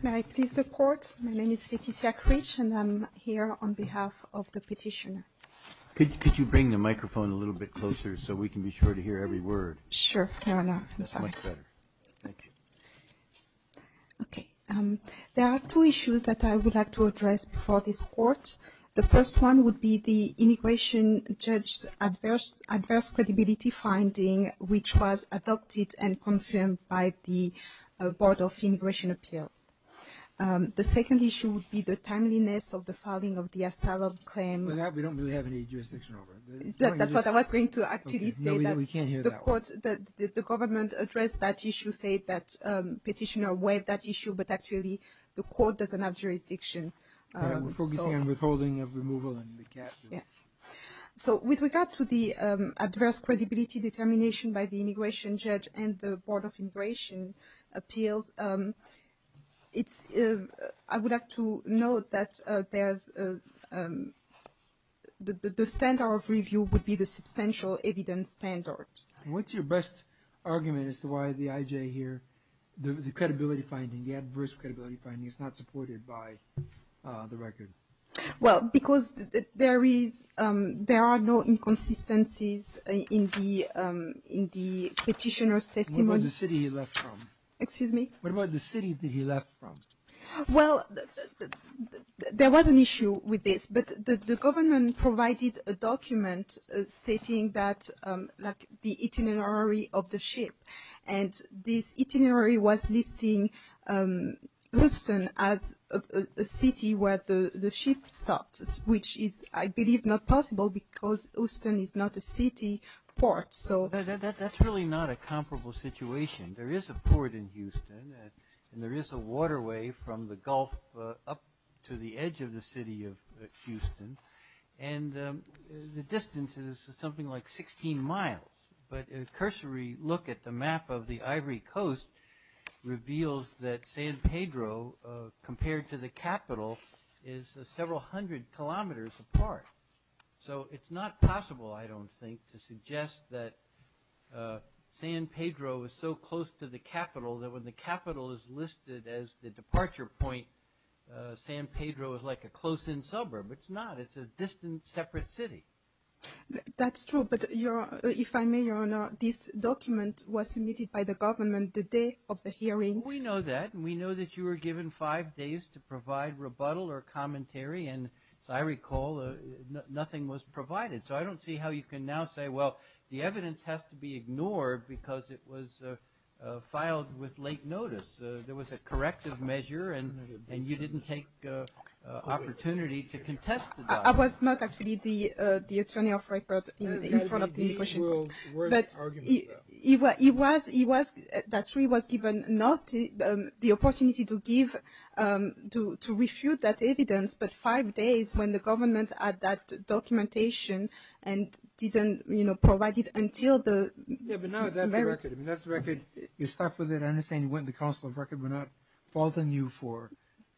May I please the court? My name is Letizia Kritsch and I'm here on behalf of the petitioner. Could you bring the microphone a little bit closer so we can be sure to hear every word? Sure. There are two issues that I would like to address before this court. The first one would be the immigration judge's adverse credibility finding, which was adopted and confirmed by the Board of Immigration Appeals. The second issue would be the timeliness of the filing of the asylum claim. We don't really have any jurisdiction over it. That's what I was going to actually say. No, we can't hear that one. The government addressed that issue, said that petitioner waived that issue, but actually the court doesn't have jurisdiction. We're focusing on withholding of removal and recapture. With regard to the adverse credibility determination by the immigration judge and the Board of Immigration Appeals, I would like to note that the standard of review would be the substantial evidence standard. What's your best argument as to why the IJ here, the credibility finding, the adverse credibility finding is not supported by the record? Well, because there are no inconsistencies in the petitioner's testimony. What about the city he left from? Excuse me? What about the city that he left from? Well, there was an issue with this, but the government provided a document stating that the itinerary of the ship, and this itinerary was listing Houston as a city where the ship stopped, which is, I believe, not possible because Houston is not a city port. That's really not a comparable situation. There is a port in Houston, and there is a waterway from the Gulf up to the edge of the city of Houston, and the distance is something like 16 miles. But a cursory look at the map of the Ivory Coast reveals that San Pedro, compared to the capital, is several hundred kilometers apart. So it's not possible, I don't think, to suggest that San Pedro is so close to the capital that when the capital is listed as the departure point, San Pedro is like a close-in suburb. It's not. It's a distant separate city. That's true. But if I may, Your Honor, this document was submitted by the government the day of the hearing. We know that. We know that you were given five days to provide rebuttal or commentary, and as I recall, nothing was provided. So I don't see how you can now say, well, the evidence has to be ignored because it was filed with late notice. There was a corrective measure, and you didn't take opportunity to contest that. I was not actually the attorney of record in front of the immigration court. That's true. He was given not the opportunity to refute that evidence, but five days when the government had that documentation and didn't provide it until the merits. That's the record. You're stuck with it. I understand you went to the Council of Records. We're not faulting you for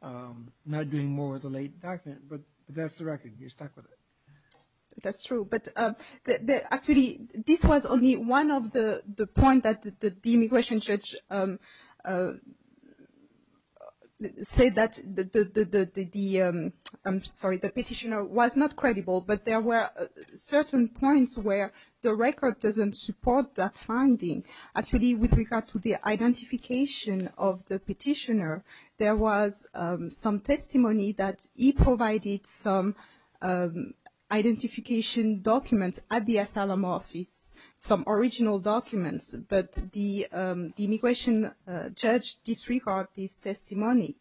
not doing more with the late document, but that's the record. You're stuck with it. That's true. But actually, this was only one of the points that the immigration judge said that the petitioner was not credible, but there were certain points where the record doesn't support that finding. Actually, with regard to the identification of the petitioner, there was some testimony that he provided some identification documents at the asylum office, some original documents, but the immigration judge disregarded his testimony.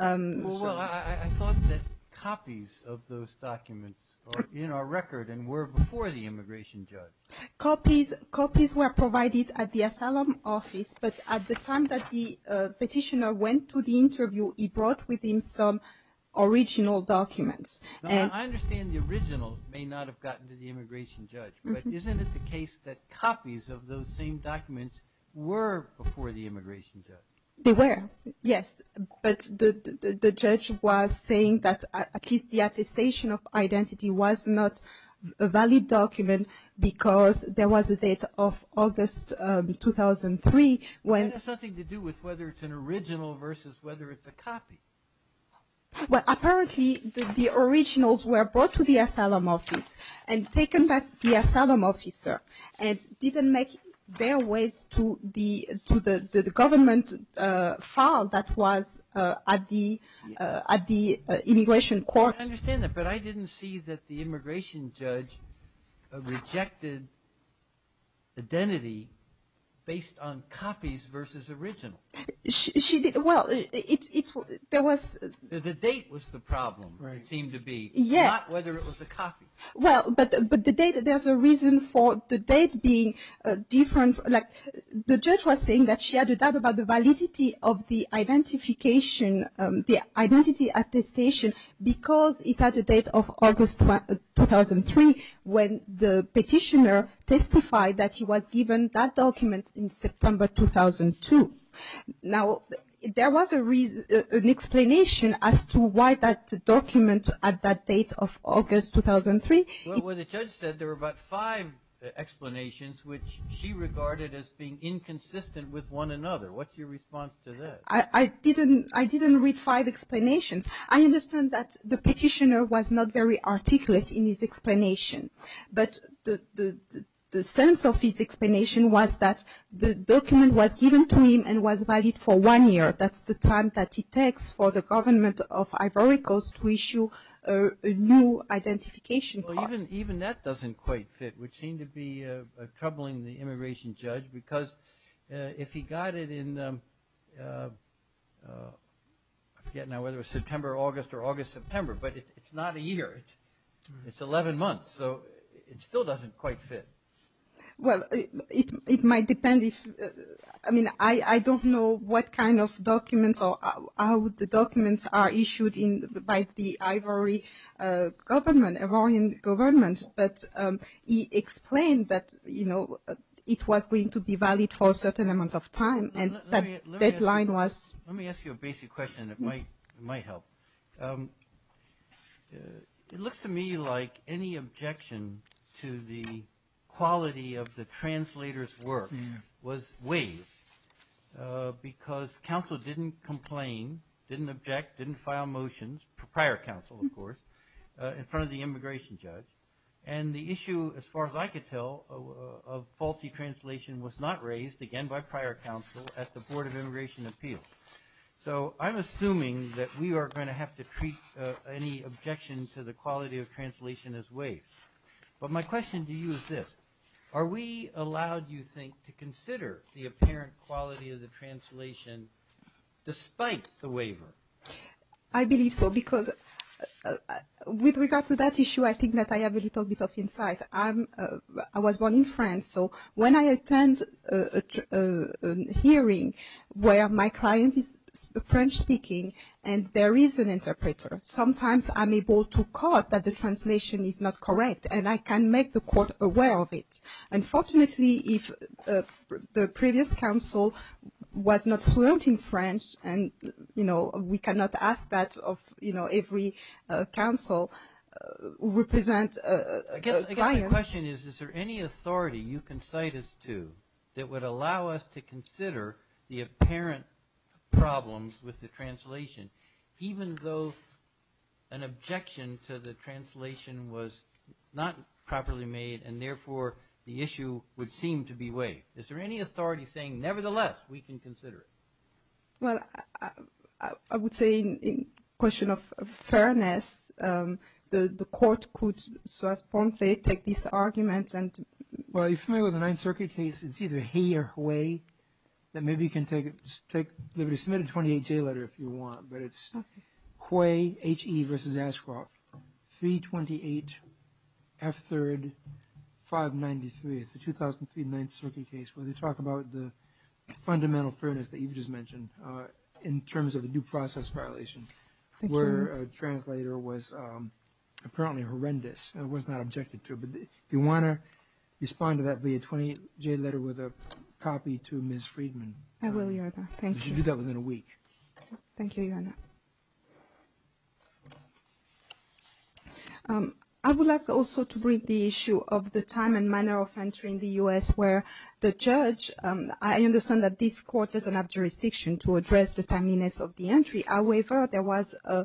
Well, I thought that copies of those documents are in our record and were before the immigration judge. Copies were provided at the asylum office, but at the time that the petitioner went to the interview, he brought with him some original documents. I understand the originals may not have gotten to the immigration judge, but isn't it the case that copies of those same documents were before the immigration judge? They were, yes, but the judge was saying that at least the attestation of identity was not a valid document because there was a date of August 2003. That has something to do with whether it's an original versus whether it's a copy. Well, apparently the originals were brought to the asylum office and taken back to the asylum officer and didn't make their way to the government file that was at the immigration court. I understand that, but I didn't see that the immigration judge rejected identity based on copies versus originals. The date was the problem, it seemed to be, not whether it was a copy. Well, but the date, there's a reason for the date being different. The judge was saying that she had a doubt about the validity of the identification, the identity attestation, because it had a date of August 2003 when the petitioner testified that he was given that document in September 2002. Now, there was an explanation as to why that document had that date of August 2003. Well, the judge said there were about five explanations which she regarded as being inconsistent with one another. What's your response to that? I didn't read five explanations. I understand that the petitioner was not very articulate in his explanation, but the sense of his explanation was that the document was given to him and was valid for one year. That's the time that it takes for the government of Ivory Coast to issue a new identification card. Well, even that doesn't quite fit, which seemed to be troubling the immigration judge, because if he got it in, I forget now whether it was September, August, or August-September, but it's not a year, it's 11 months, so it still doesn't quite fit. Well, it might depend if, I mean, I don't know what kind of documents or how the documents are issued by the Ivory government, Ivorian government, but he explained that it was going to be valid for a certain amount of time and that deadline was- Let me ask you a basic question and it might help. It looks to me like any objection to the quality of the translator's work was waived because counsel didn't complain, didn't object, didn't file motions, prior counsel, of course, in front of the immigration judge, and the issue, as far as I could tell, of faulty translation was not raised again by prior counsel at the Board of Immigration Appeals. So I'm assuming that we are going to have to treat any objection to the quality of translation as waived. But my question to you is this. Are we allowed, you think, to consider the apparent quality of the translation despite the waiver? I believe so because with regard to that issue, I think that I have a little bit of insight. I was born in France, so when I attend a hearing where my client is French-speaking and there is an interpreter, sometimes I'm able to quote that the translation is not correct and I can make the court aware of it. Unfortunately, if the previous counsel was not fluent in French and, you know, we cannot ask that of, you know, every counsel who represents a client- I guess my question is, is there any authority you can cite us to that would allow us to consider the apparent problems with the translation even though an objection to the translation was not properly made and, therefore, the issue would seem to be waived? Is there any authority saying, nevertheless, we can consider it? Well, I would say in question of fairness, the court could, so as Ponce said, take this argument and- Well, if you're familiar with the Ninth Circuit case, it's either He or Huey, then maybe you can submit a 28-J letter if you want, but it's Huey, H.E. v. Ashcroft, 328 F3rd 593. It's the 2003 Ninth Circuit case where they talk about the fundamental fairness that you've just mentioned in terms of the due process violation where a translator was apparently horrendous and was not objected to, but if you want to respond to that via 28-J letter with a copy to Ms. Friedman. I will, Your Honor. Thank you. You should do that within a week. Thank you, Your Honor. I would like also to bring the issue of the time and manner of entry in the U.S. where the judge- I understand that this court doesn't have jurisdiction to address the timeliness of the entry. However, there was a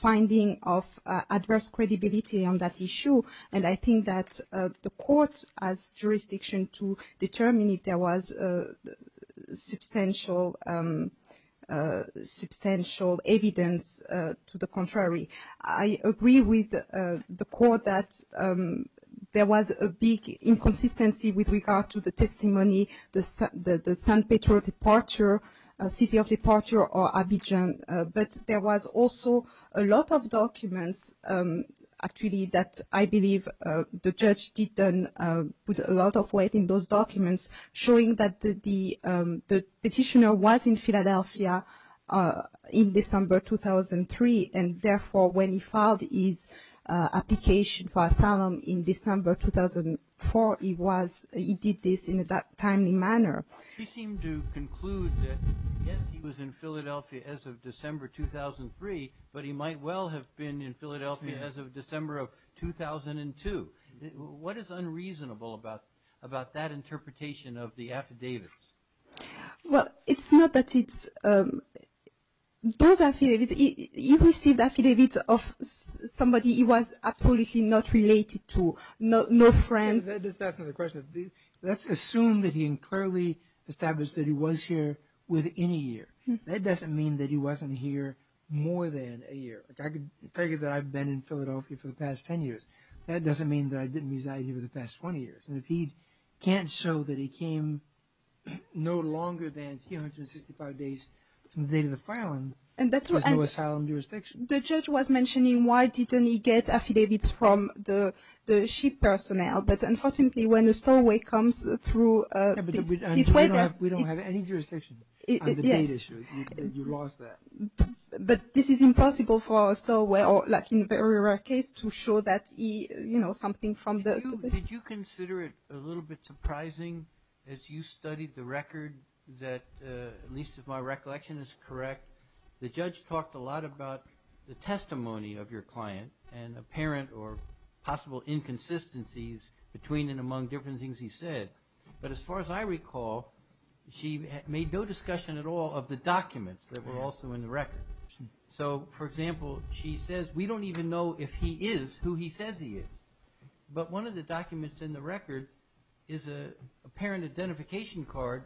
finding of adverse credibility on that issue, and I think that the court has jurisdiction to determine if there was substantial evidence to the contrary. I agree with the court that there was a big inconsistency with regard to the testimony, the San Pedro departure, city of departure, or Abidjan, but there was also a lot of documents actually that I believe the judge did put a lot of weight in those documents showing that the petitioner was in Philadelphia in December 2003, and therefore when he filed his application for asylum in December 2004, he did this in a timely manner. She seemed to conclude that yes, he was in Philadelphia as of December 2003, but he might well have been in Philadelphia as of December of 2002. What is unreasonable about that interpretation of the affidavits? Well, it's not that it's- those affidavits, he received affidavits of somebody he was absolutely not related to, no friends. That's another question. Let's assume that he clearly established that he was here within a year. That doesn't mean that he wasn't here more than a year. I could figure that I've been in Philadelphia for the past 10 years. That doesn't mean that I didn't reside here for the past 20 years, and if he can't show that he came no longer than 365 days from the date of the filing, there's no asylum jurisdiction. The judge was mentioning why didn't he get affidavits from the ship personnel, but unfortunately when a stowaway comes through- Yeah, but we don't have any jurisdiction on the date issue. You lost that. But this is impossible for a stowaway or like in a very rare case to show that he, you know, something from the- Did you consider it a little bit surprising as you studied the record that, at least if my recollection is correct, the judge talked a lot about the testimony of your client and apparent or possible inconsistencies between and among different things he said. But as far as I recall, she made no discussion at all of the documents that were also in the record. So, for example, she says we don't even know if he is who he says he is. But one of the documents in the record is an apparent identification card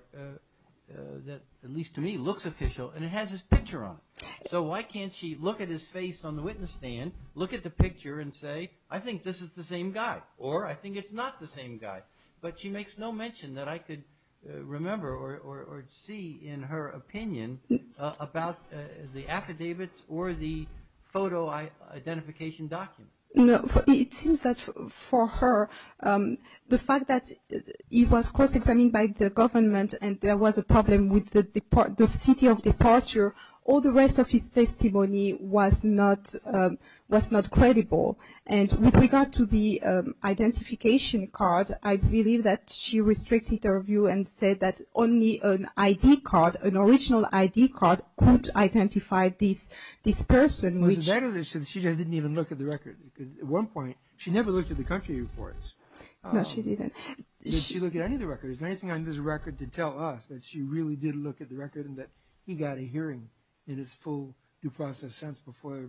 that, at least to me, looks official and it has his picture on it. So why can't she look at his face on the witness stand, look at the picture and say, I think this is the same guy or I think it's not the same guy. But she makes no mention that I could remember or see in her opinion about the affidavits or the photo identification document. It seems that for her, the fact that he was cross-examined by the government and there was a problem with the city of departure, all the rest of his testimony was not credible. And with regard to the identification card, I believe that she restricted her view and said that only an ID card, an original ID card could identify this person. She didn't even look at the record. At one point, she never looked at the country reports. No, she didn't. Did she look at any of the records? Is there anything on this record to tell us that she really did look at the record and that he got a hearing in its full due process sense before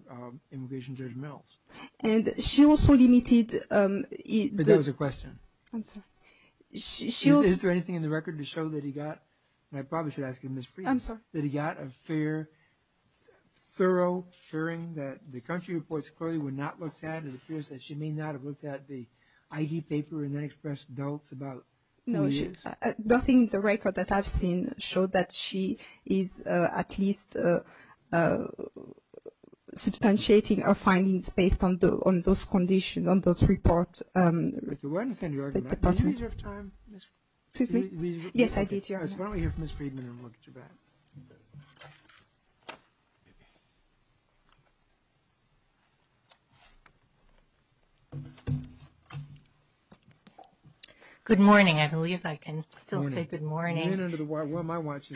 Immigration Judge Mills? And she also limited... But that was a question. I'm sorry. Is there anything in the record to show that he got, and I probably should ask Ms. Friedman, that he got a thorough hearing that the country reports clearly were not looked at and it appears that she may not have looked at the ID paper and then expressed doubts about who he is? No, I think the record that I've seen showed that she is at least substantiating her findings based on those conditions, on those reports. Okay, well, I understand your argument. Did you use your time, Ms. Friedman? Excuse me? Yes, I did use your time. Why don't we hear from Ms. Friedman and look at your back? Good morning. I believe I can still say good morning. Where am I watching?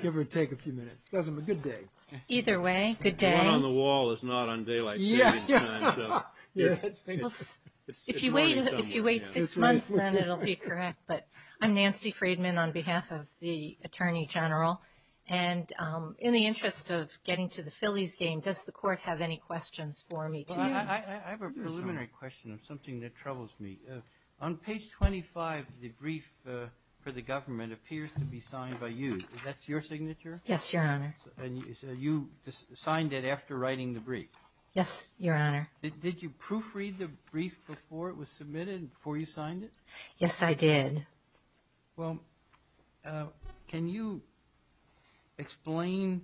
Give or take a few minutes. It doesn't matter. Good day. Either way, good day. The one on the wall is not on daylight. If you wait six months, then it will be correct. But I'm Nancy Friedman on behalf of the Attorney General. And in the interest of getting to the Phillies game, does the Court have any questions for me? I have a preliminary question on something that troubles me. On page 25, the brief for the government appears to be signed by you. Is that your signature? Yes, Your Honor. And you signed it after writing the brief? Yes, Your Honor. Did you proofread the brief before it was submitted, before you signed it? Yes, I did. Well, can you explain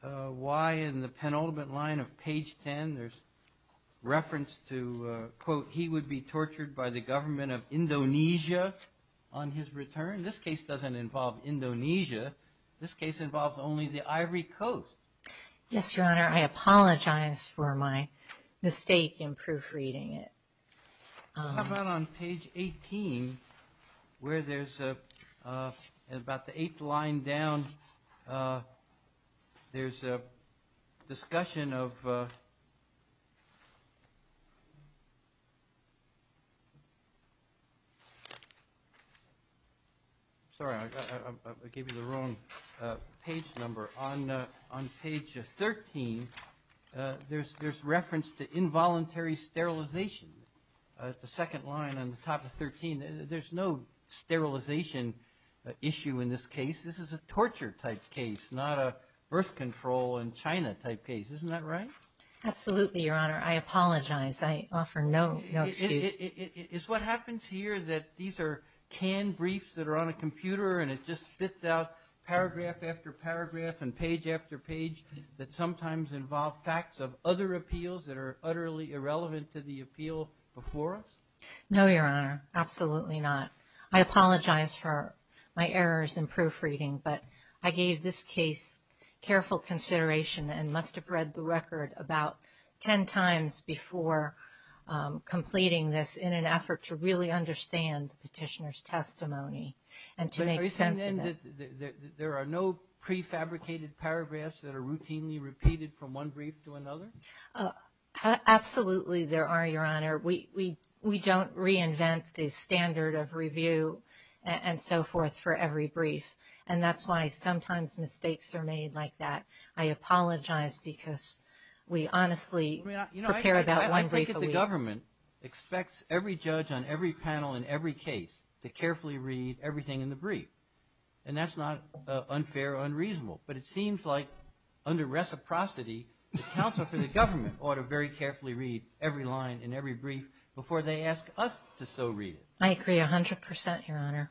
why in the penultimate line of page 10, there's reference to, quote, he would be tortured by the government of Indonesia on his return? This case doesn't involve Indonesia. This case involves only the Ivory Coast. Yes, Your Honor. I apologize for my mistake in proofreading it. How about on page 18, where there's about the eighth line down, there's a discussion of – sorry, I gave you the wrong page number. On page 13, there's reference to involuntary sterilization. The second line on the top of 13, there's no sterilization issue in this case. This is a torture-type case, not a birth control in China-type case. Isn't that right? Absolutely, Your Honor. I apologize. I offer no excuse. Is what happens here that these are canned briefs that are on a computer and it just spits out paragraph after paragraph and page after page that sometimes involve facts of other appeals that are utterly irrelevant to the appeal before us? No, Your Honor, absolutely not. I apologize for my errors in proofreading, but I gave this case careful consideration and must have read the record about 10 times before completing this in an effort to really understand the petitioner's testimony and to make sense of it. There are no prefabricated paragraphs that are routinely repeated from one brief to another? Absolutely there are, Your Honor. We don't reinvent the standard of review and so forth for every brief, and that's why sometimes mistakes are made like that. The government expects every judge on every panel in every case to carefully read everything in the brief, and that's not unfair or unreasonable, but it seems like under reciprocity, the counsel for the government ought to very carefully read every line in every brief before they ask us to so read it. I agree 100 percent, Your Honor.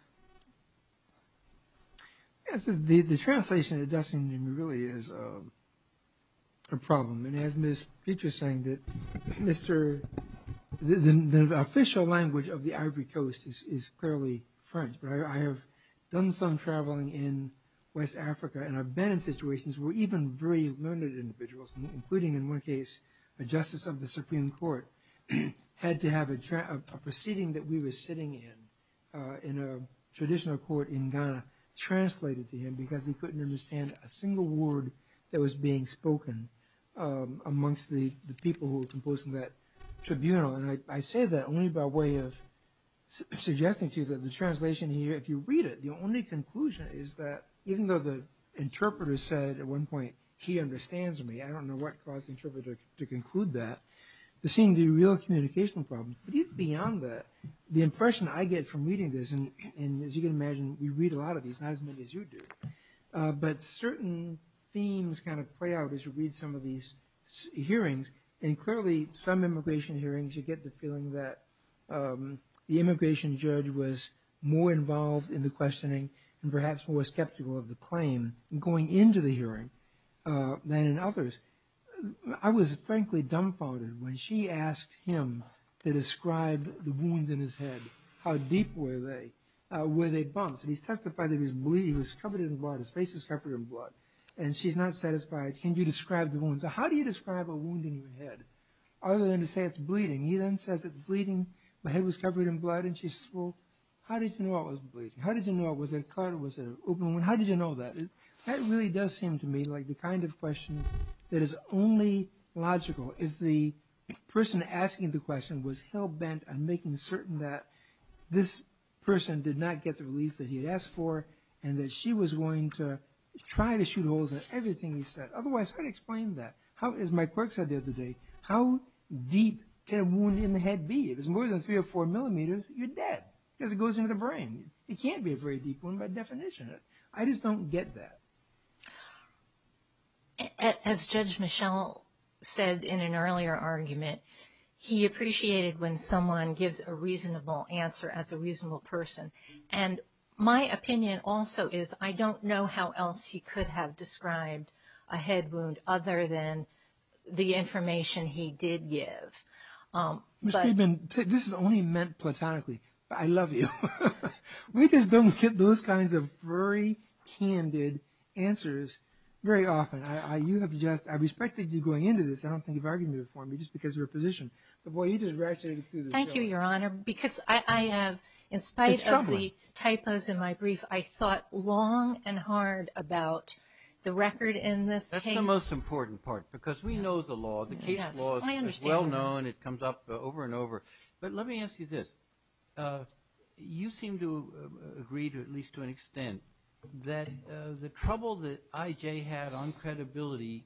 The translation that Dustin gave me really is a problem, and as Ms. Petra is saying, the official language of the Ivory Coast is clearly French, but I have done some traveling in West Africa, and I've been in situations where even very learned individuals, including in one case a justice of the Supreme Court, had to have a proceeding that we were sitting in, in a traditional court in Ghana, translated to him because he couldn't understand a single word that was being spoken amongst the people who were composed in that tribunal, and I say that only by way of suggesting to you that the translation here, if you read it, the only conclusion is that even though the interpreter said at one point, he understands me, I don't know what caused the interpreter to conclude that. It seemed to be a real communication problem, but even beyond that, the impression I get from reading this, and as you can imagine, we read a lot of these, not as many as you do, but certain themes kind of play out as you read some of these hearings, and clearly some immigration hearings you get the feeling that the immigration judge was more involved in the questioning and perhaps more skeptical of the claim going into the hearing than in others. I was frankly dumbfounded when she asked him to describe the wounds in his head, how deep were they, were they bumps, and he testified that he was bleeding, he was covered in blood, his face was covered in blood, and she's not satisfied. Can you describe the wounds? How do you describe a wound in your head, other than to say it's bleeding? He then says it's bleeding, my head was covered in blood, and she says, well, how did you know it was bleeding? How did you know it was a cut, was it an open wound? How did you know that? That really does seem to me like the kind of question that is only logical if the person asking the question was hell-bent on making certain that this person did not get the release that he had asked for and that she was going to try to shoot holes in everything he said. Otherwise, how do you explain that? As my clerk said the other day, how deep can a wound in the head be? If it's more than three or four millimeters, you're dead, because it goes into the brain. It can't be a very deep wound by definition. I just don't get that. As Judge Michel said in an earlier argument, he appreciated when someone gives a reasonable answer as a reasonable person. My opinion also is I don't know how else he could have described a head wound other than the information he did give. Ms. Friedman, this is only meant platonically. I love you. We just don't get those kinds of very candid answers very often. I respected you going into this. I don't think you've argued for me just because of your position. But, boy, you just ratcheted through the show. Thank you, Your Honor, because I have, in spite of the typos in my brief, I thought long and hard about the record in this case. That's the most important part, because we know the law. The case law is well known. It comes up over and over. But let me ask you this. You seem to agree, at least to an extent, that the trouble that I.J. had on credibility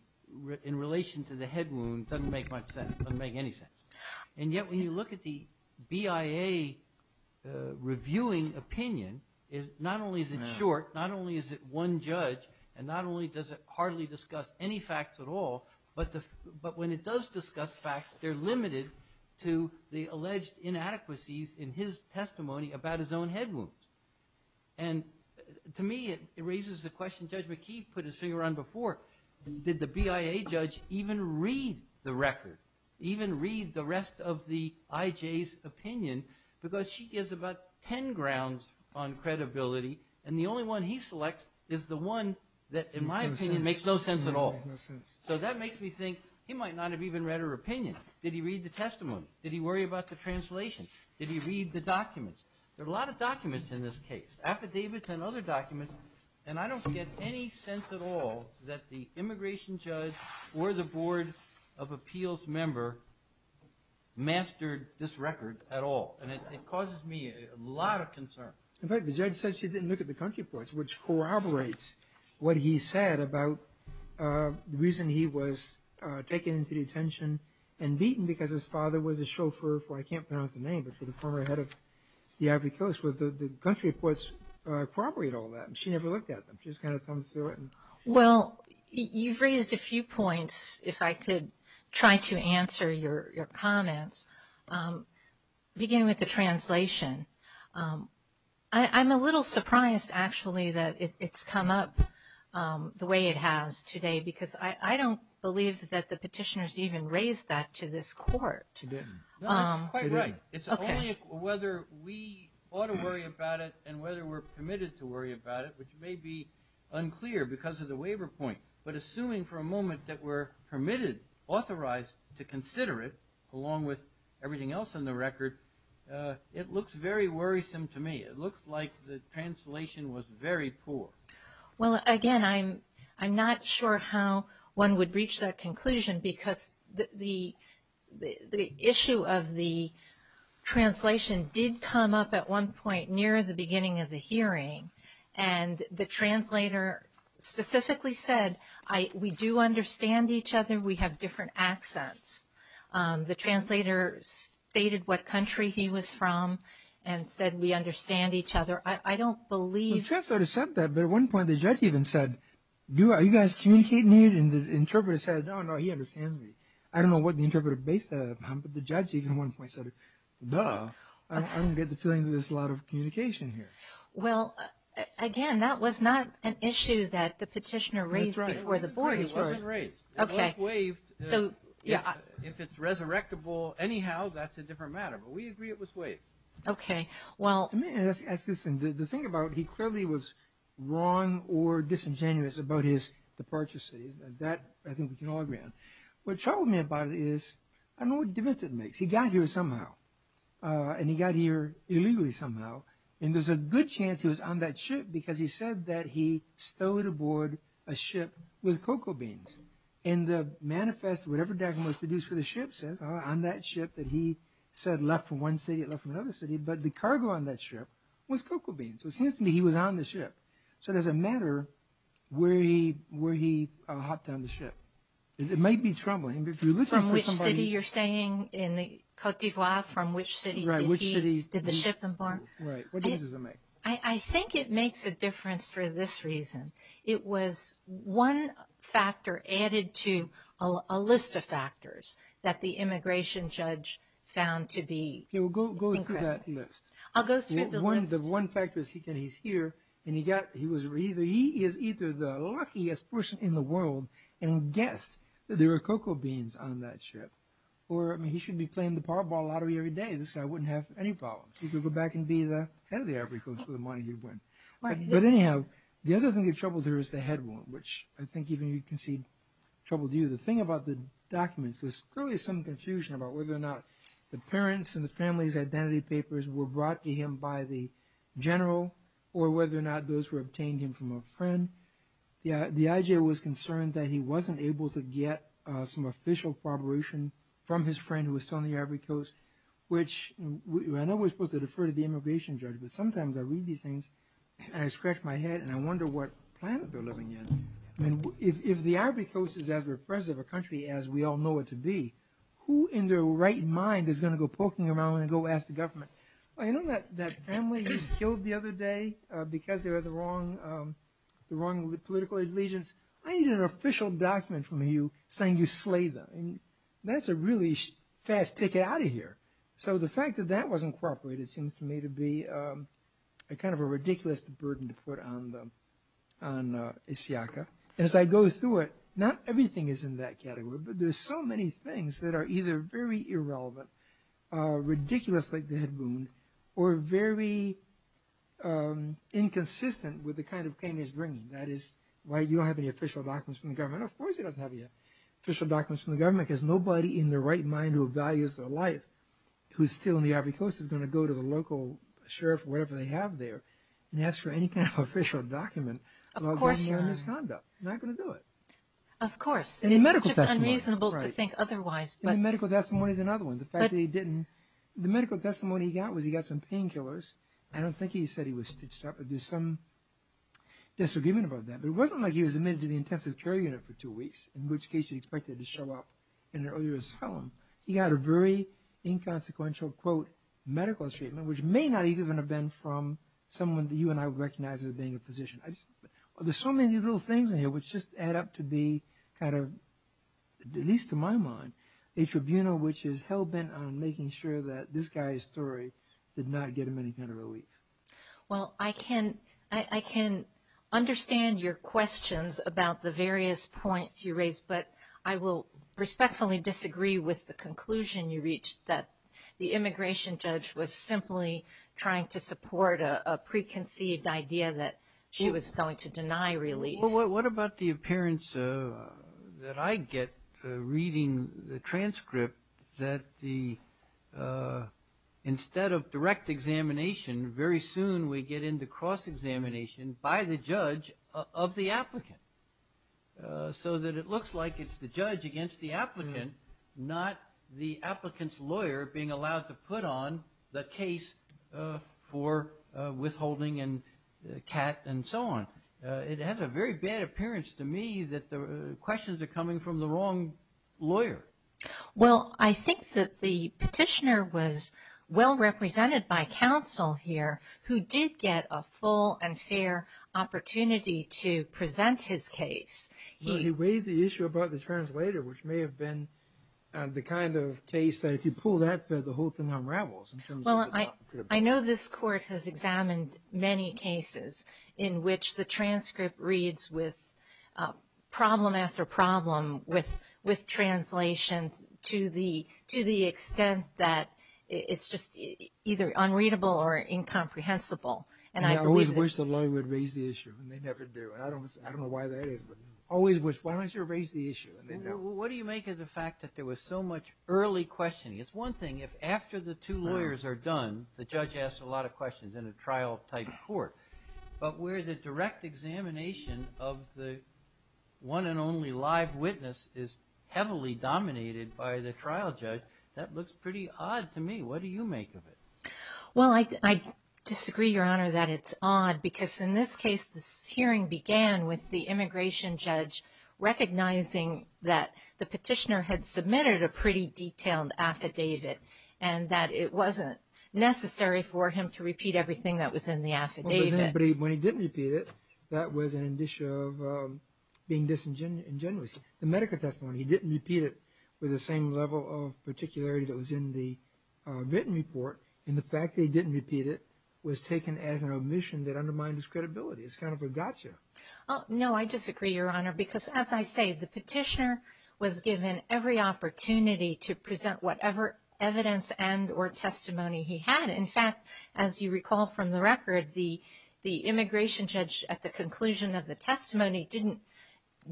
in relation to the head wound doesn't make much sense, doesn't make any sense. And yet when you look at the BIA reviewing opinion, not only is it short, not only is it one judge, and not only does it hardly discuss any facts at all, but when it does discuss facts, they're limited to the alleged inadequacies in his testimony about his own head wounds. And, to me, it raises the question Judge McKee put his finger on before. Did the BIA judge even read the record, even read the rest of the I.J.'s opinion, because she gives about ten grounds on credibility, and the only one he selects is the one that, in my opinion, makes no sense at all. So that makes me think he might not have even read her opinion. Did he read the testimony? Did he worry about the translation? Did he read the documents? There are a lot of documents in this case, affidavits and other documents, and I don't get any sense at all that the immigration judge or the board of appeals member mastered this record at all. And it causes me a lot of concern. In fact, the judge said she didn't look at the country reports, which corroborates what he said about the reason he was taken into detention and beaten because his father was a chauffeur for, I can't pronounce the name, but for the former head of the Ivy Coast. The country reports corroborate all that. She never looked at them. She just kind of thumbs through it. Well, you've raised a few points. If I could try to answer your comments, beginning with the translation. I'm a little surprised, actually, that it's come up the way it has today, because I don't believe that the petitioners even raised that to this court. No, it's quite right. It's only whether we ought to worry about it and whether we're permitted to worry about it, which may be unclear because of the waiver point. But assuming for a moment that we're permitted, authorized to consider it, along with everything else in the record, it looks very worrisome to me. It looks like the translation was very poor. Well, again, I'm not sure how one would reach that conclusion because the issue of the translation did come up at one point, near the beginning of the hearing, and the translator specifically said, we do understand each other, we have different accents. The translator stated what country he was from and said we understand each other. I don't believe. The translator said that, but at one point the judge even said, are you guys communicating here? And the interpreter said, no, no, he understands me. I don't know what the interpreter based that upon, but the judge even at one point said, duh, I don't get the feeling that there's a lot of communication here. Well, again, that was not an issue that the petitioner raised before the board. It wasn't raised. It was waived. If it's resurrectable anyhow, that's a different matter, but we agree it was waived. Okay. Let me ask this thing. The thing about, he clearly was wrong or disingenuous about his departure cities. That I think we can all agree on. What troubled me about it is, I don't know what difference it makes. He got here somehow, and he got here illegally somehow, and there's a good chance he was on that ship because he said that he stowed aboard a ship with cocoa beans. In the manifest, whatever document was produced for the ship says, on that ship that he said left from one city, left from another city, but the cargo on that ship was cocoa beans. It seems to me he was on the ship. So it doesn't matter where he hopped on the ship. It might be troubling. From which city you're saying, in the Cote d'Ivoire, from which city did the ship embark? Right. What difference does it make? I think it makes a difference for this reason. It was one factor added to a list of factors that the immigration judge found to be incorrect. Go through that list. I'll go through the list. The one factor is he's here, and he is either the luckiest person in the world and guessed that there were cocoa beans on that ship, or he should be playing the Powerball Lottery every day. This guy wouldn't have any problems. He could go back and be the head of the African for the money he'd win. But anyhow, the other thing that troubled her is the head wound, which I think even you can see troubled you. The thing about the documents, there's clearly some confusion about whether or not the parents' and the family's identity papers were brought to him by the general, or whether or not those were obtained him from a friend. The IJ was concerned that he wasn't able to get some official corroboration from his friend who was telling the Ivory Coast, which I know we're supposed to defer to the immigration judge, but sometimes I read these things, and I scratch my head, and I wonder what planet they're living in. If the Ivory Coast is as repressive a country as we all know it to be, who in their right mind is going to go poking around and go ask the government, you know that family you killed the other day because they were the wrong political allegiance? I need an official document from you saying you slayed them. That's a really fast ticket out of here. So the fact that that was incorporated seems to me to be a kind of a ridiculous burden to put on Isiaka. As I go through it, not everything is in that category, but there's so many things that are either very irrelevant, ridiculous like the head wound, or very inconsistent with the kind of claim he's bringing. That is why you don't have any official documents from the government. Of course he doesn't have any official documents from the government because nobody in their right mind who values their life who's still in the Ivory Coast is going to go to the local sheriff, whatever they have there, and ask for any kind of official document about their misconduct. They're not going to do it. Of course. It's just unreasonable to think otherwise. The medical testimony is another one. The medical testimony he got was he got some painkillers. I don't think he said he was stitched up. There's some disagreement about that. It wasn't like he was admitted to the intensive care unit for two weeks, in which case you'd expect him to show up in an earlier asylum. He got a very inconsequential, quote, medical treatment, which may not even have been from someone that you and I recognize as being a physician. There's so many little things in here which just add up to be kind of, at least to my mind, a tribunal which is hell-bent on making sure that this guy's story did not get him any kind of relief. Well, I can understand your questions about the various points you raised, but I will respectfully disagree with the conclusion you reached that the immigration judge was simply trying to support a preconceived idea that she was going to deny relief. Well, what about the appearance that I get reading the transcript that instead of direct examination, very soon we get into cross-examination by the judge of the applicant, so that it looks like it's the judge against the applicant, not the applicant's lawyer being allowed to put on the case for withholding and CAT and so on? It has a very bad appearance to me that the questions are coming from the wrong lawyer. Well, I think that the petitioner was well-represented by counsel here who did get a full and fair opportunity to present his case. He raised the issue about the translator, which may have been the kind of case that if you pull that, the whole thing unravels. Well, I know this Court has examined many cases in which the transcript reads with problem after problem with translations to the extent that it's just either unreadable or incomprehensible. And I always wish the lawyer would raise the issue, and they never do. I don't know why that is, but I always wish the lawyer would raise the issue. What do you make of the fact that there was so much early questioning? It's one thing if after the two lawyers are done, the judge asks a lot of questions in a trial-type court. But where the direct examination of the one and only live witness is heavily dominated by the trial judge, that looks pretty odd to me. What do you make of it? Well, I disagree, Your Honor, that it's odd because in this case, this hearing began with the immigration judge recognizing that the petitioner had submitted a pretty detailed affidavit and that it wasn't necessary for him to repeat everything that was in the affidavit. But when he didn't repeat it, that was an issue of being disingenuous. The medical testimony, he didn't repeat it with the same level of particularity that was in the written report. And the fact that he didn't repeat it was taken as an omission that undermined his credibility. It's kind of a gotcha. No, I disagree, Your Honor, because as I say, the petitioner was given every opportunity to present whatever evidence and or testimony he had. In fact, as you recall from the record, the immigration judge at the conclusion of the testimony didn't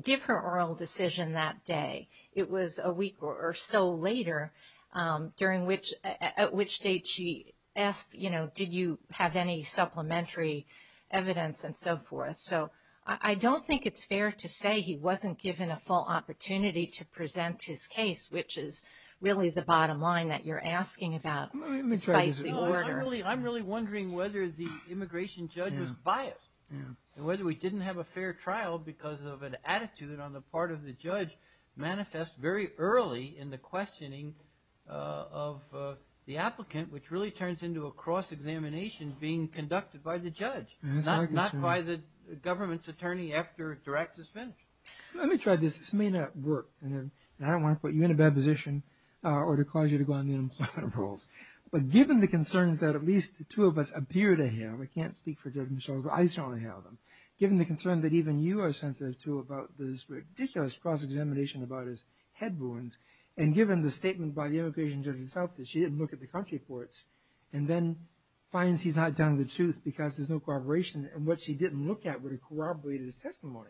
give her oral decision that day. It was a week or so later, at which date she asked, you know, did you have any supplementary evidence and so forth. So I don't think it's fair to say he wasn't given a full opportunity to present his case, which is really the bottom line that you're asking about. I'm really wondering whether the immigration judge was biased, and whether we didn't have a fair trial because of an attitude on the part of the judge manifest very early in the questioning of the applicant, which really turns into a cross-examination being conducted by the judge, not by the government's attorney after direct disfinishment. Let me try this. This may not work. And I don't want to put you in a bad position or to cause you to go on the unemployment rolls. But given the concerns that at least the two of us appear to have, I can't speak for Judge Mitchell, but I certainly have them. Given the concern that even you are sensitive to about this ridiculous cross-examination about his head wounds, and given the statement by the immigration judge herself that she didn't look at the country reports, and then finds he's not telling the truth because there's no corroboration, and what she didn't look at would have corroborated his testimony.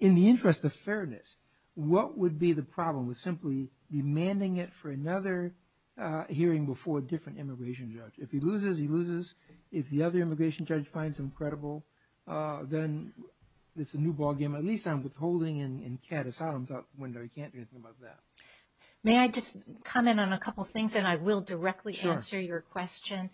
In the interest of fairness, what would be the problem with simply demanding it for another hearing before a different immigration judge? If he loses, he loses. If the other immigration judge finds him credible, then it's a new ballgame. At least I'm withholding and Kat is out of the window. He can't do anything about that. May I just comment on a couple of things? And I will directly answer your question.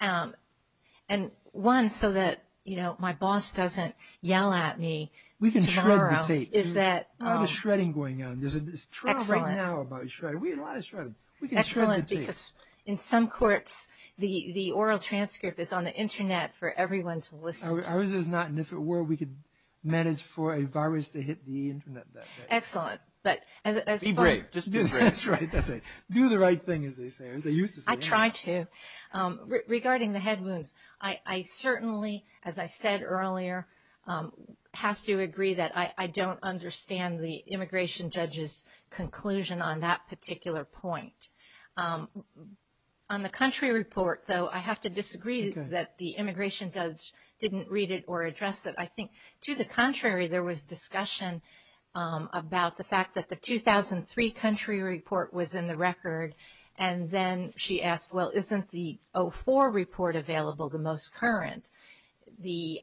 And one, so that my boss doesn't yell at me tomorrow. We can shred the tape. There's a lot of shredding going on. There's a trial right now about shredding. We have a lot of shredding. We can shred the tape. Excellent, because in some courts, the oral transcript is on the internet for everyone to listen to. Ours is not, and if it were, we could manage for a virus to hit the internet that way. Excellent. Be brave. Just be brave. That's right. Do the right thing, as they say. I try to. Regarding the head wounds, I certainly, as I said earlier, have to agree that I don't understand the immigration judge's conclusion on that particular point. On the country report, though, I have to disagree that the immigration judge didn't read it or address it. I think, to the contrary, there was discussion about the fact that the 2003 country report was in the record and then she asked, well, isn't the 04 report available, the most current? The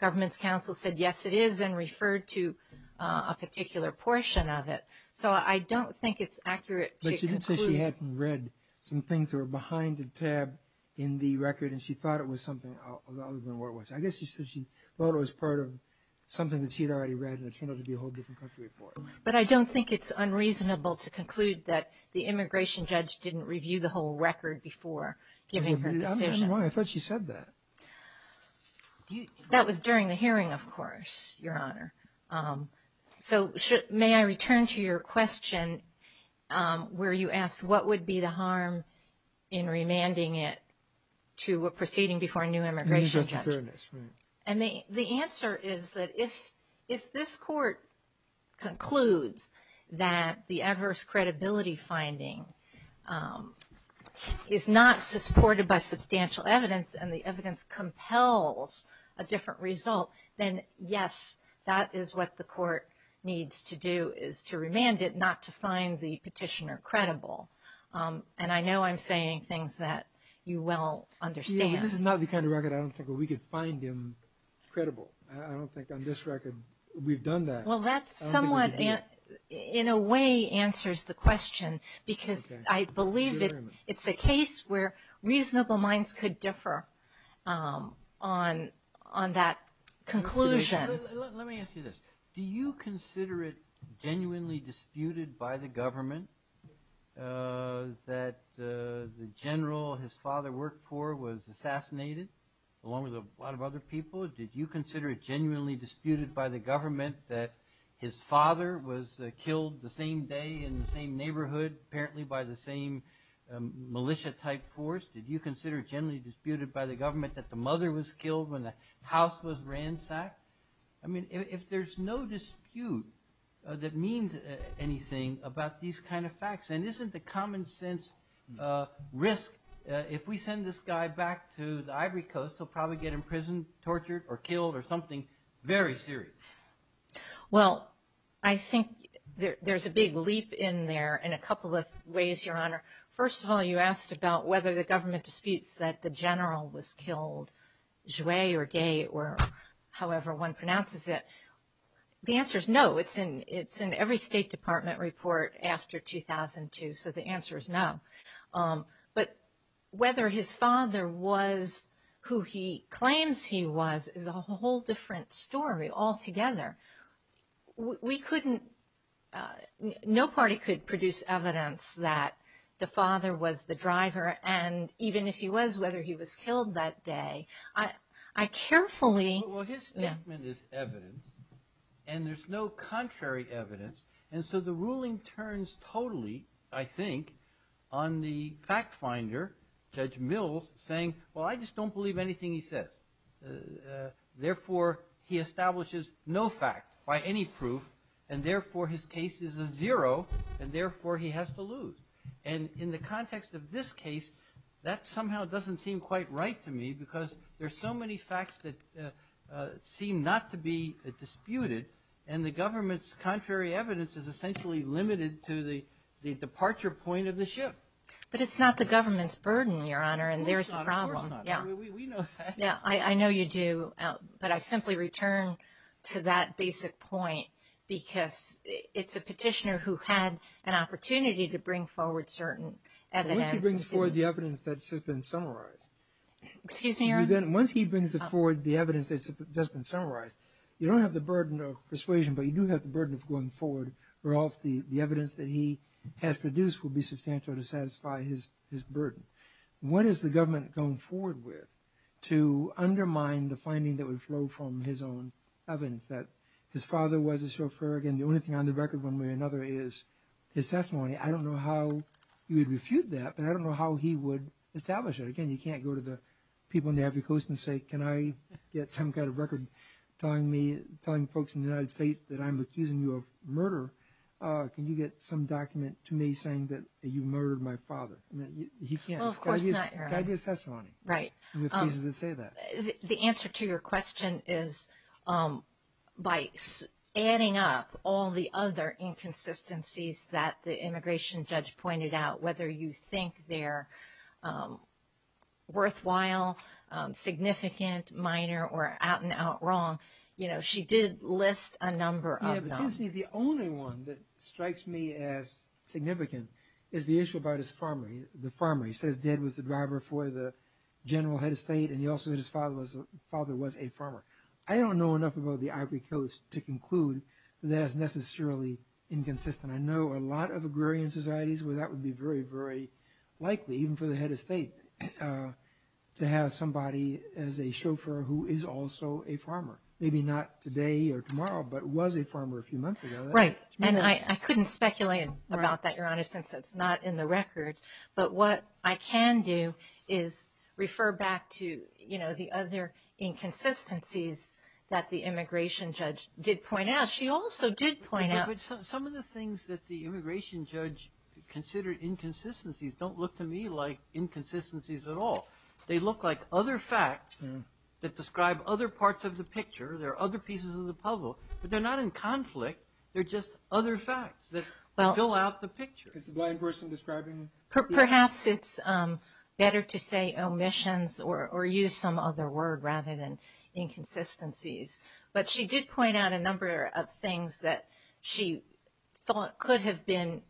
government's counsel said, yes, it is, and referred to a particular portion of it. So I don't think it's accurate to conclude. But she didn't say she hadn't read some things that were behind the tab in the record, and she thought it was something other than what it was. I guess she said she thought it was part of something that she had already read, and it turned out to be a whole different country report. But I don't think it's unreasonable to conclude that the immigration judge didn't review the whole record before giving her decision. I don't understand why. I thought she said that. That was during the hearing, of course, Your Honor. So may I return to your question where you asked, what would be the harm in remanding it to a proceeding before a new immigration judge? New judge of fairness, right. And the answer is that if this court concludes that the adverse credibility finding is not supported by substantial evidence and the evidence compels a different result, then, yes, that is what the court needs to do is to remand it, not to find the petitioner credible. And I know I'm saying things that you well understand. This is not the kind of record I don't think where we could find him credible. I don't think on this record we've done that. Well, that somewhat in a way answers the question, because I believe it's a case where reasonable minds could differ on that conclusion. Let me ask you this. Do you consider it genuinely disputed by the government that the general his father worked for was assassinated, along with a lot of other people? Did you consider it genuinely disputed by the government that his father was killed the same day in the same neighborhood, apparently by the same militia-type force? Did you consider it genuinely disputed by the government that the mother was killed when the house was ransacked? I mean, if there's no dispute that means anything about these kind of facts, and isn't the common sense risk if we send this guy back to the Ivory Coast, he'll probably get imprisoned, tortured, or killed or something very serious? Well, I think there's a big leap in there in a couple of ways, Your Honor. First of all, you asked about whether the government disputes that the general was killed, whether it was Jouer or Gay or however one pronounces it. The answer is no. It's in every State Department report after 2002, so the answer is no. But whether his father was who he claims he was is a whole different story altogether. We couldn't, no party could produce evidence that the father was the driver, and even if he was, whether he was killed that day. I carefully- Well, his statement is evidence, and there's no contrary evidence, and so the ruling turns totally, I think, on the fact finder, Judge Mills, saying, well, I just don't believe anything he says. Therefore, he establishes no fact by any proof, and therefore his case is a zero, and therefore he has to lose. And in the context of this case, that somehow doesn't seem quite right to me because there's so many facts that seem not to be disputed, and the government's contrary evidence is essentially limited to the departure point of the ship. But it's not the government's burden, Your Honor, and there's the problem. Of course it's not, of course it's not. We know that. I know you do, but I simply return to that basic point because it's a petitioner who had an opportunity to bring forward certain evidence. Once he brings forward the evidence that has been summarized- Excuse me, Your Honor. Once he brings forward the evidence that has been summarized, you don't have the burden of persuasion, but you do have the burden of going forward, or else the evidence that he has produced will be substantial to satisfy his burden. What is the government going forward with to undermine the finding that would flow from his own evidence, that his father was a chauffeur? Again, the only thing on the record one way or another is his testimony. I don't know how you would refute that, but I don't know how he would establish it. Again, you can't go to the people on the African coast and say, can I get some kind of record telling folks in the United States that I'm accusing you of murder? Can you get some document to me saying that you murdered my father? He can't. Well, of course not, Your Honor. It's got to be his testimony. Right. He refuses to say that. The answer to your question is by adding up all the other inconsistencies that the immigration judge pointed out, whether you think they're worthwhile, significant, minor, or out and out wrong, you know, she did list a number of them. You know, it seems to me the only one that strikes me as significant is the issue about his pharmacy. He says Dad was the driver for the general head of state, and he also said his father was a farmer. I don't know enough about the Ivory Coast to conclude that that's necessarily inconsistent. I know a lot of agrarian societies where that would be very, very likely, even for the head of state, to have somebody as a chauffeur who is also a farmer. Maybe not today or tomorrow, but was a farmer a few months ago. Right. And I couldn't speculate about that, Your Honor, since it's not in the record. But what I can do is refer back to, you know, the other inconsistencies that the immigration judge did point out. She also did point out. Some of the things that the immigration judge considered inconsistencies don't look to me like inconsistencies at all. They look like other facts that describe other parts of the picture. They're other pieces of the puzzle, but they're not in conflict. They're just other facts that fill out the picture. Is the blind person describing? Perhaps it's better to say omissions or use some other word rather than inconsistencies. But she did point out a number of things that she thought could have been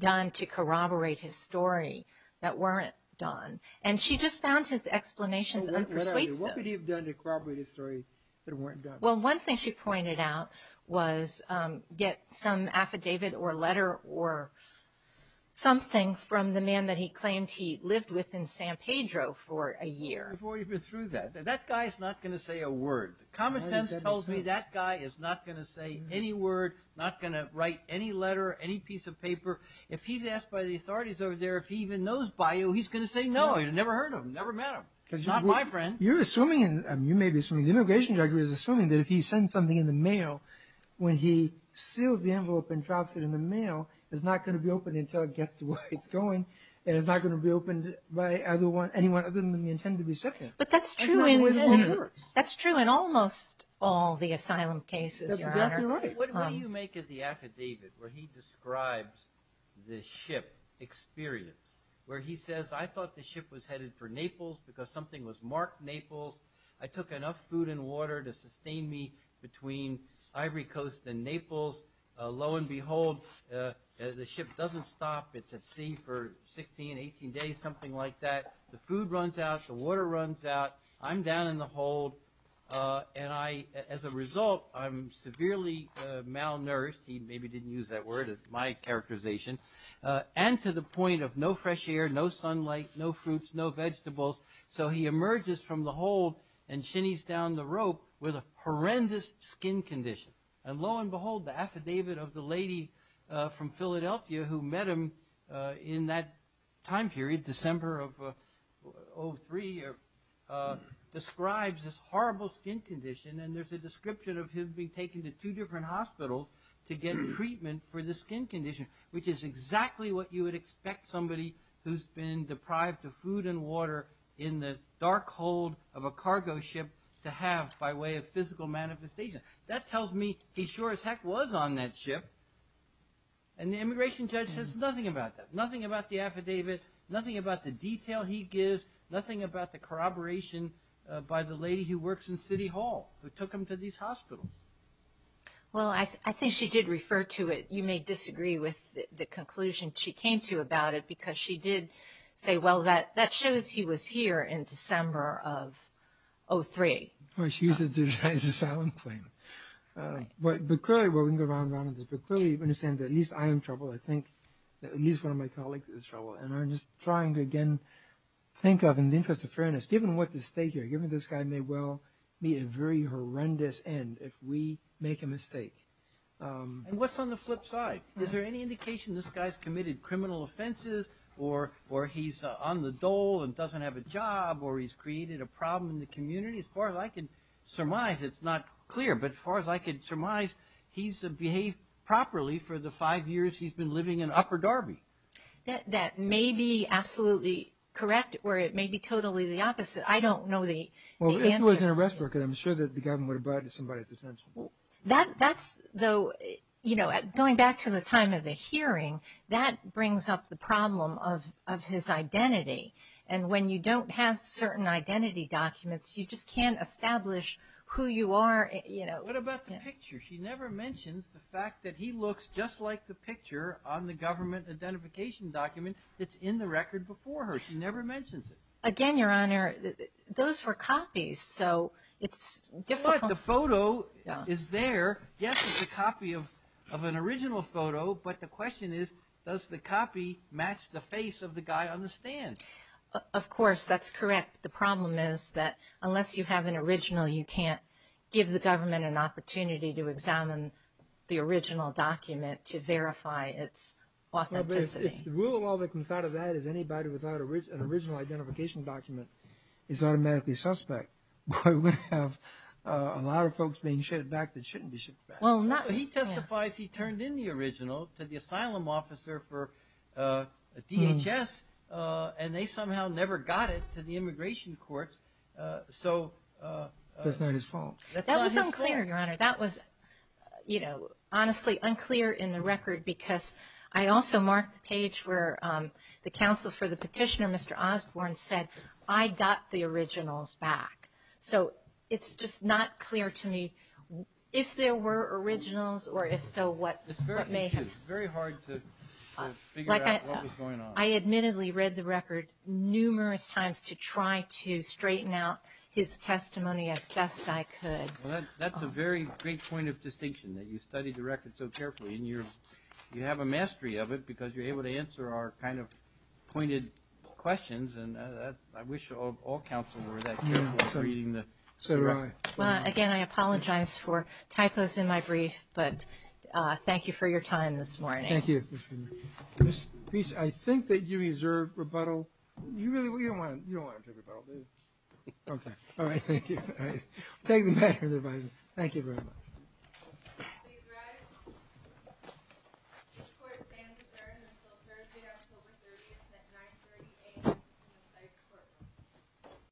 done to corroborate his story that weren't done. And she just found his explanations unpersuasive. What could he have done to corroborate his story that weren't done? Well, one thing she pointed out was get some affidavit or letter or something from the man that he claimed he lived with in San Pedro for a year. Before you go through that, that guy's not going to say a word. Common Sense tells me that guy is not going to say any word, not going to write any letter, any piece of paper. If he's asked by the authorities over there if he even knows Bayou, he's going to say no. You've never heard of him, never met him. He's not my friend. You're assuming, you may be assuming, the immigration director is assuming that if he sends something in the mail, when he seals the envelope and drops it in the mail, it's not going to be opened until it gets to where it's going. And it's not going to be opened by anyone other than the intended recipient. But that's true in almost all the asylum cases, Your Honor. That's exactly right. What do you make of the affidavit where he describes the ship experience? Where he says, I thought the ship was headed for Naples because something was marked Naples. I took enough food and water to sustain me between Ivory Coast and Naples. Lo and behold, the ship doesn't stop. It's at sea for 16, 18 days, something like that. The food runs out. The water runs out. I'm down in the hold. And as a result, I'm severely malnourished. He maybe didn't use that word. It's my characterization. And to the point of no fresh air, no sunlight, no fruits, no vegetables. So he emerges from the hold and shinnies down the rope with a horrendous skin condition. And lo and behold, the affidavit of the lady from Philadelphia who met him in that time period, December of 2003, describes this horrible skin condition. And there's a description of him being taken to two different hospitals to get treatment for the skin condition, which is exactly what you would expect somebody who's been deprived of food and water in the dark hold of a cargo ship to have by way of physical manifestation. That tells me he sure as heck was on that ship. And the immigration judge says nothing about that, nothing about the affidavit, nothing about the detail he gives, nothing about the corroboration by the lady who works in City Hall who took him to these hospitals. Well, I think she did refer to it. You may disagree with the conclusion she came to about it because she did say, well, that shows he was here in December of 2003. Well, she used it to deny his asylum claim. But clearly, well, we can go round and round on this, but clearly you understand that at least I am in trouble. I think at least one of my colleagues is in trouble. And I'm just trying to again think of, in the interest of fairness, given what the state here, given this guy may well meet a very horrendous end if we make a mistake. And what's on the flip side? Is there any indication this guy's committed criminal offenses or he's on the dole and doesn't have a job or he's created a problem in the community? As far as I can surmise, it's not clear, but as far as I can surmise, he's behaved properly for the five years he's been living in Upper Darby. That may be absolutely correct or it may be totally the opposite. I don't know the answer. Well, if it was an arrest record, I'm sure that the government would have brought it to somebody's attention. That's though, you know, going back to the time of the hearing, that brings up the problem of his identity. And when you don't have certain identity documents, you just can't establish who you are, you know. What about the picture? She never mentions the fact that he looks just like the picture on the government identification document that's in the record before her. She never mentions it. Again, Your Honor, those were copies, so it's difficult. But the photo is there. Yes, it's a copy of an original photo. But the question is, does the copy match the face of the guy on the stand? Of course, that's correct. The problem is that unless you have an original, you can't give the government an opportunity to examine the original document to verify its authenticity. If the rule of law that comes out of that is anybody without an original identification document is automatically suspect, we would have a lot of folks being shipped back that shouldn't be shipped back. He testifies he turned in the original to the asylum officer for DHS, and they somehow never got it to the immigration courts. That's not his fault. That was unclear, Your Honor. That was, you know, honestly unclear in the record because I also marked the page where the counsel for the petitioner, Mr. Osborne, said, I got the originals back. So it's just not clear to me if there were originals or if so what may have been. It's very hard to figure out what was going on. I admittedly read the record numerous times to try to straighten out his testimony as best I could. Well, that's a very great point of distinction that you studied the record so carefully, and you have a mastery of it because you're able to answer our kind of pointed questions, and I wish all counsel were that careful in reading the record. Well, again, I apologize for typos in my brief, but thank you for your time this morning. Thank you. I think that you deserve rebuttal. You don't want to take rebuttal, do you? Okay. All right. Thank you. Thank you very much. Please rise. This court stands adjourned until Thursday, October 30th at 930 a.m.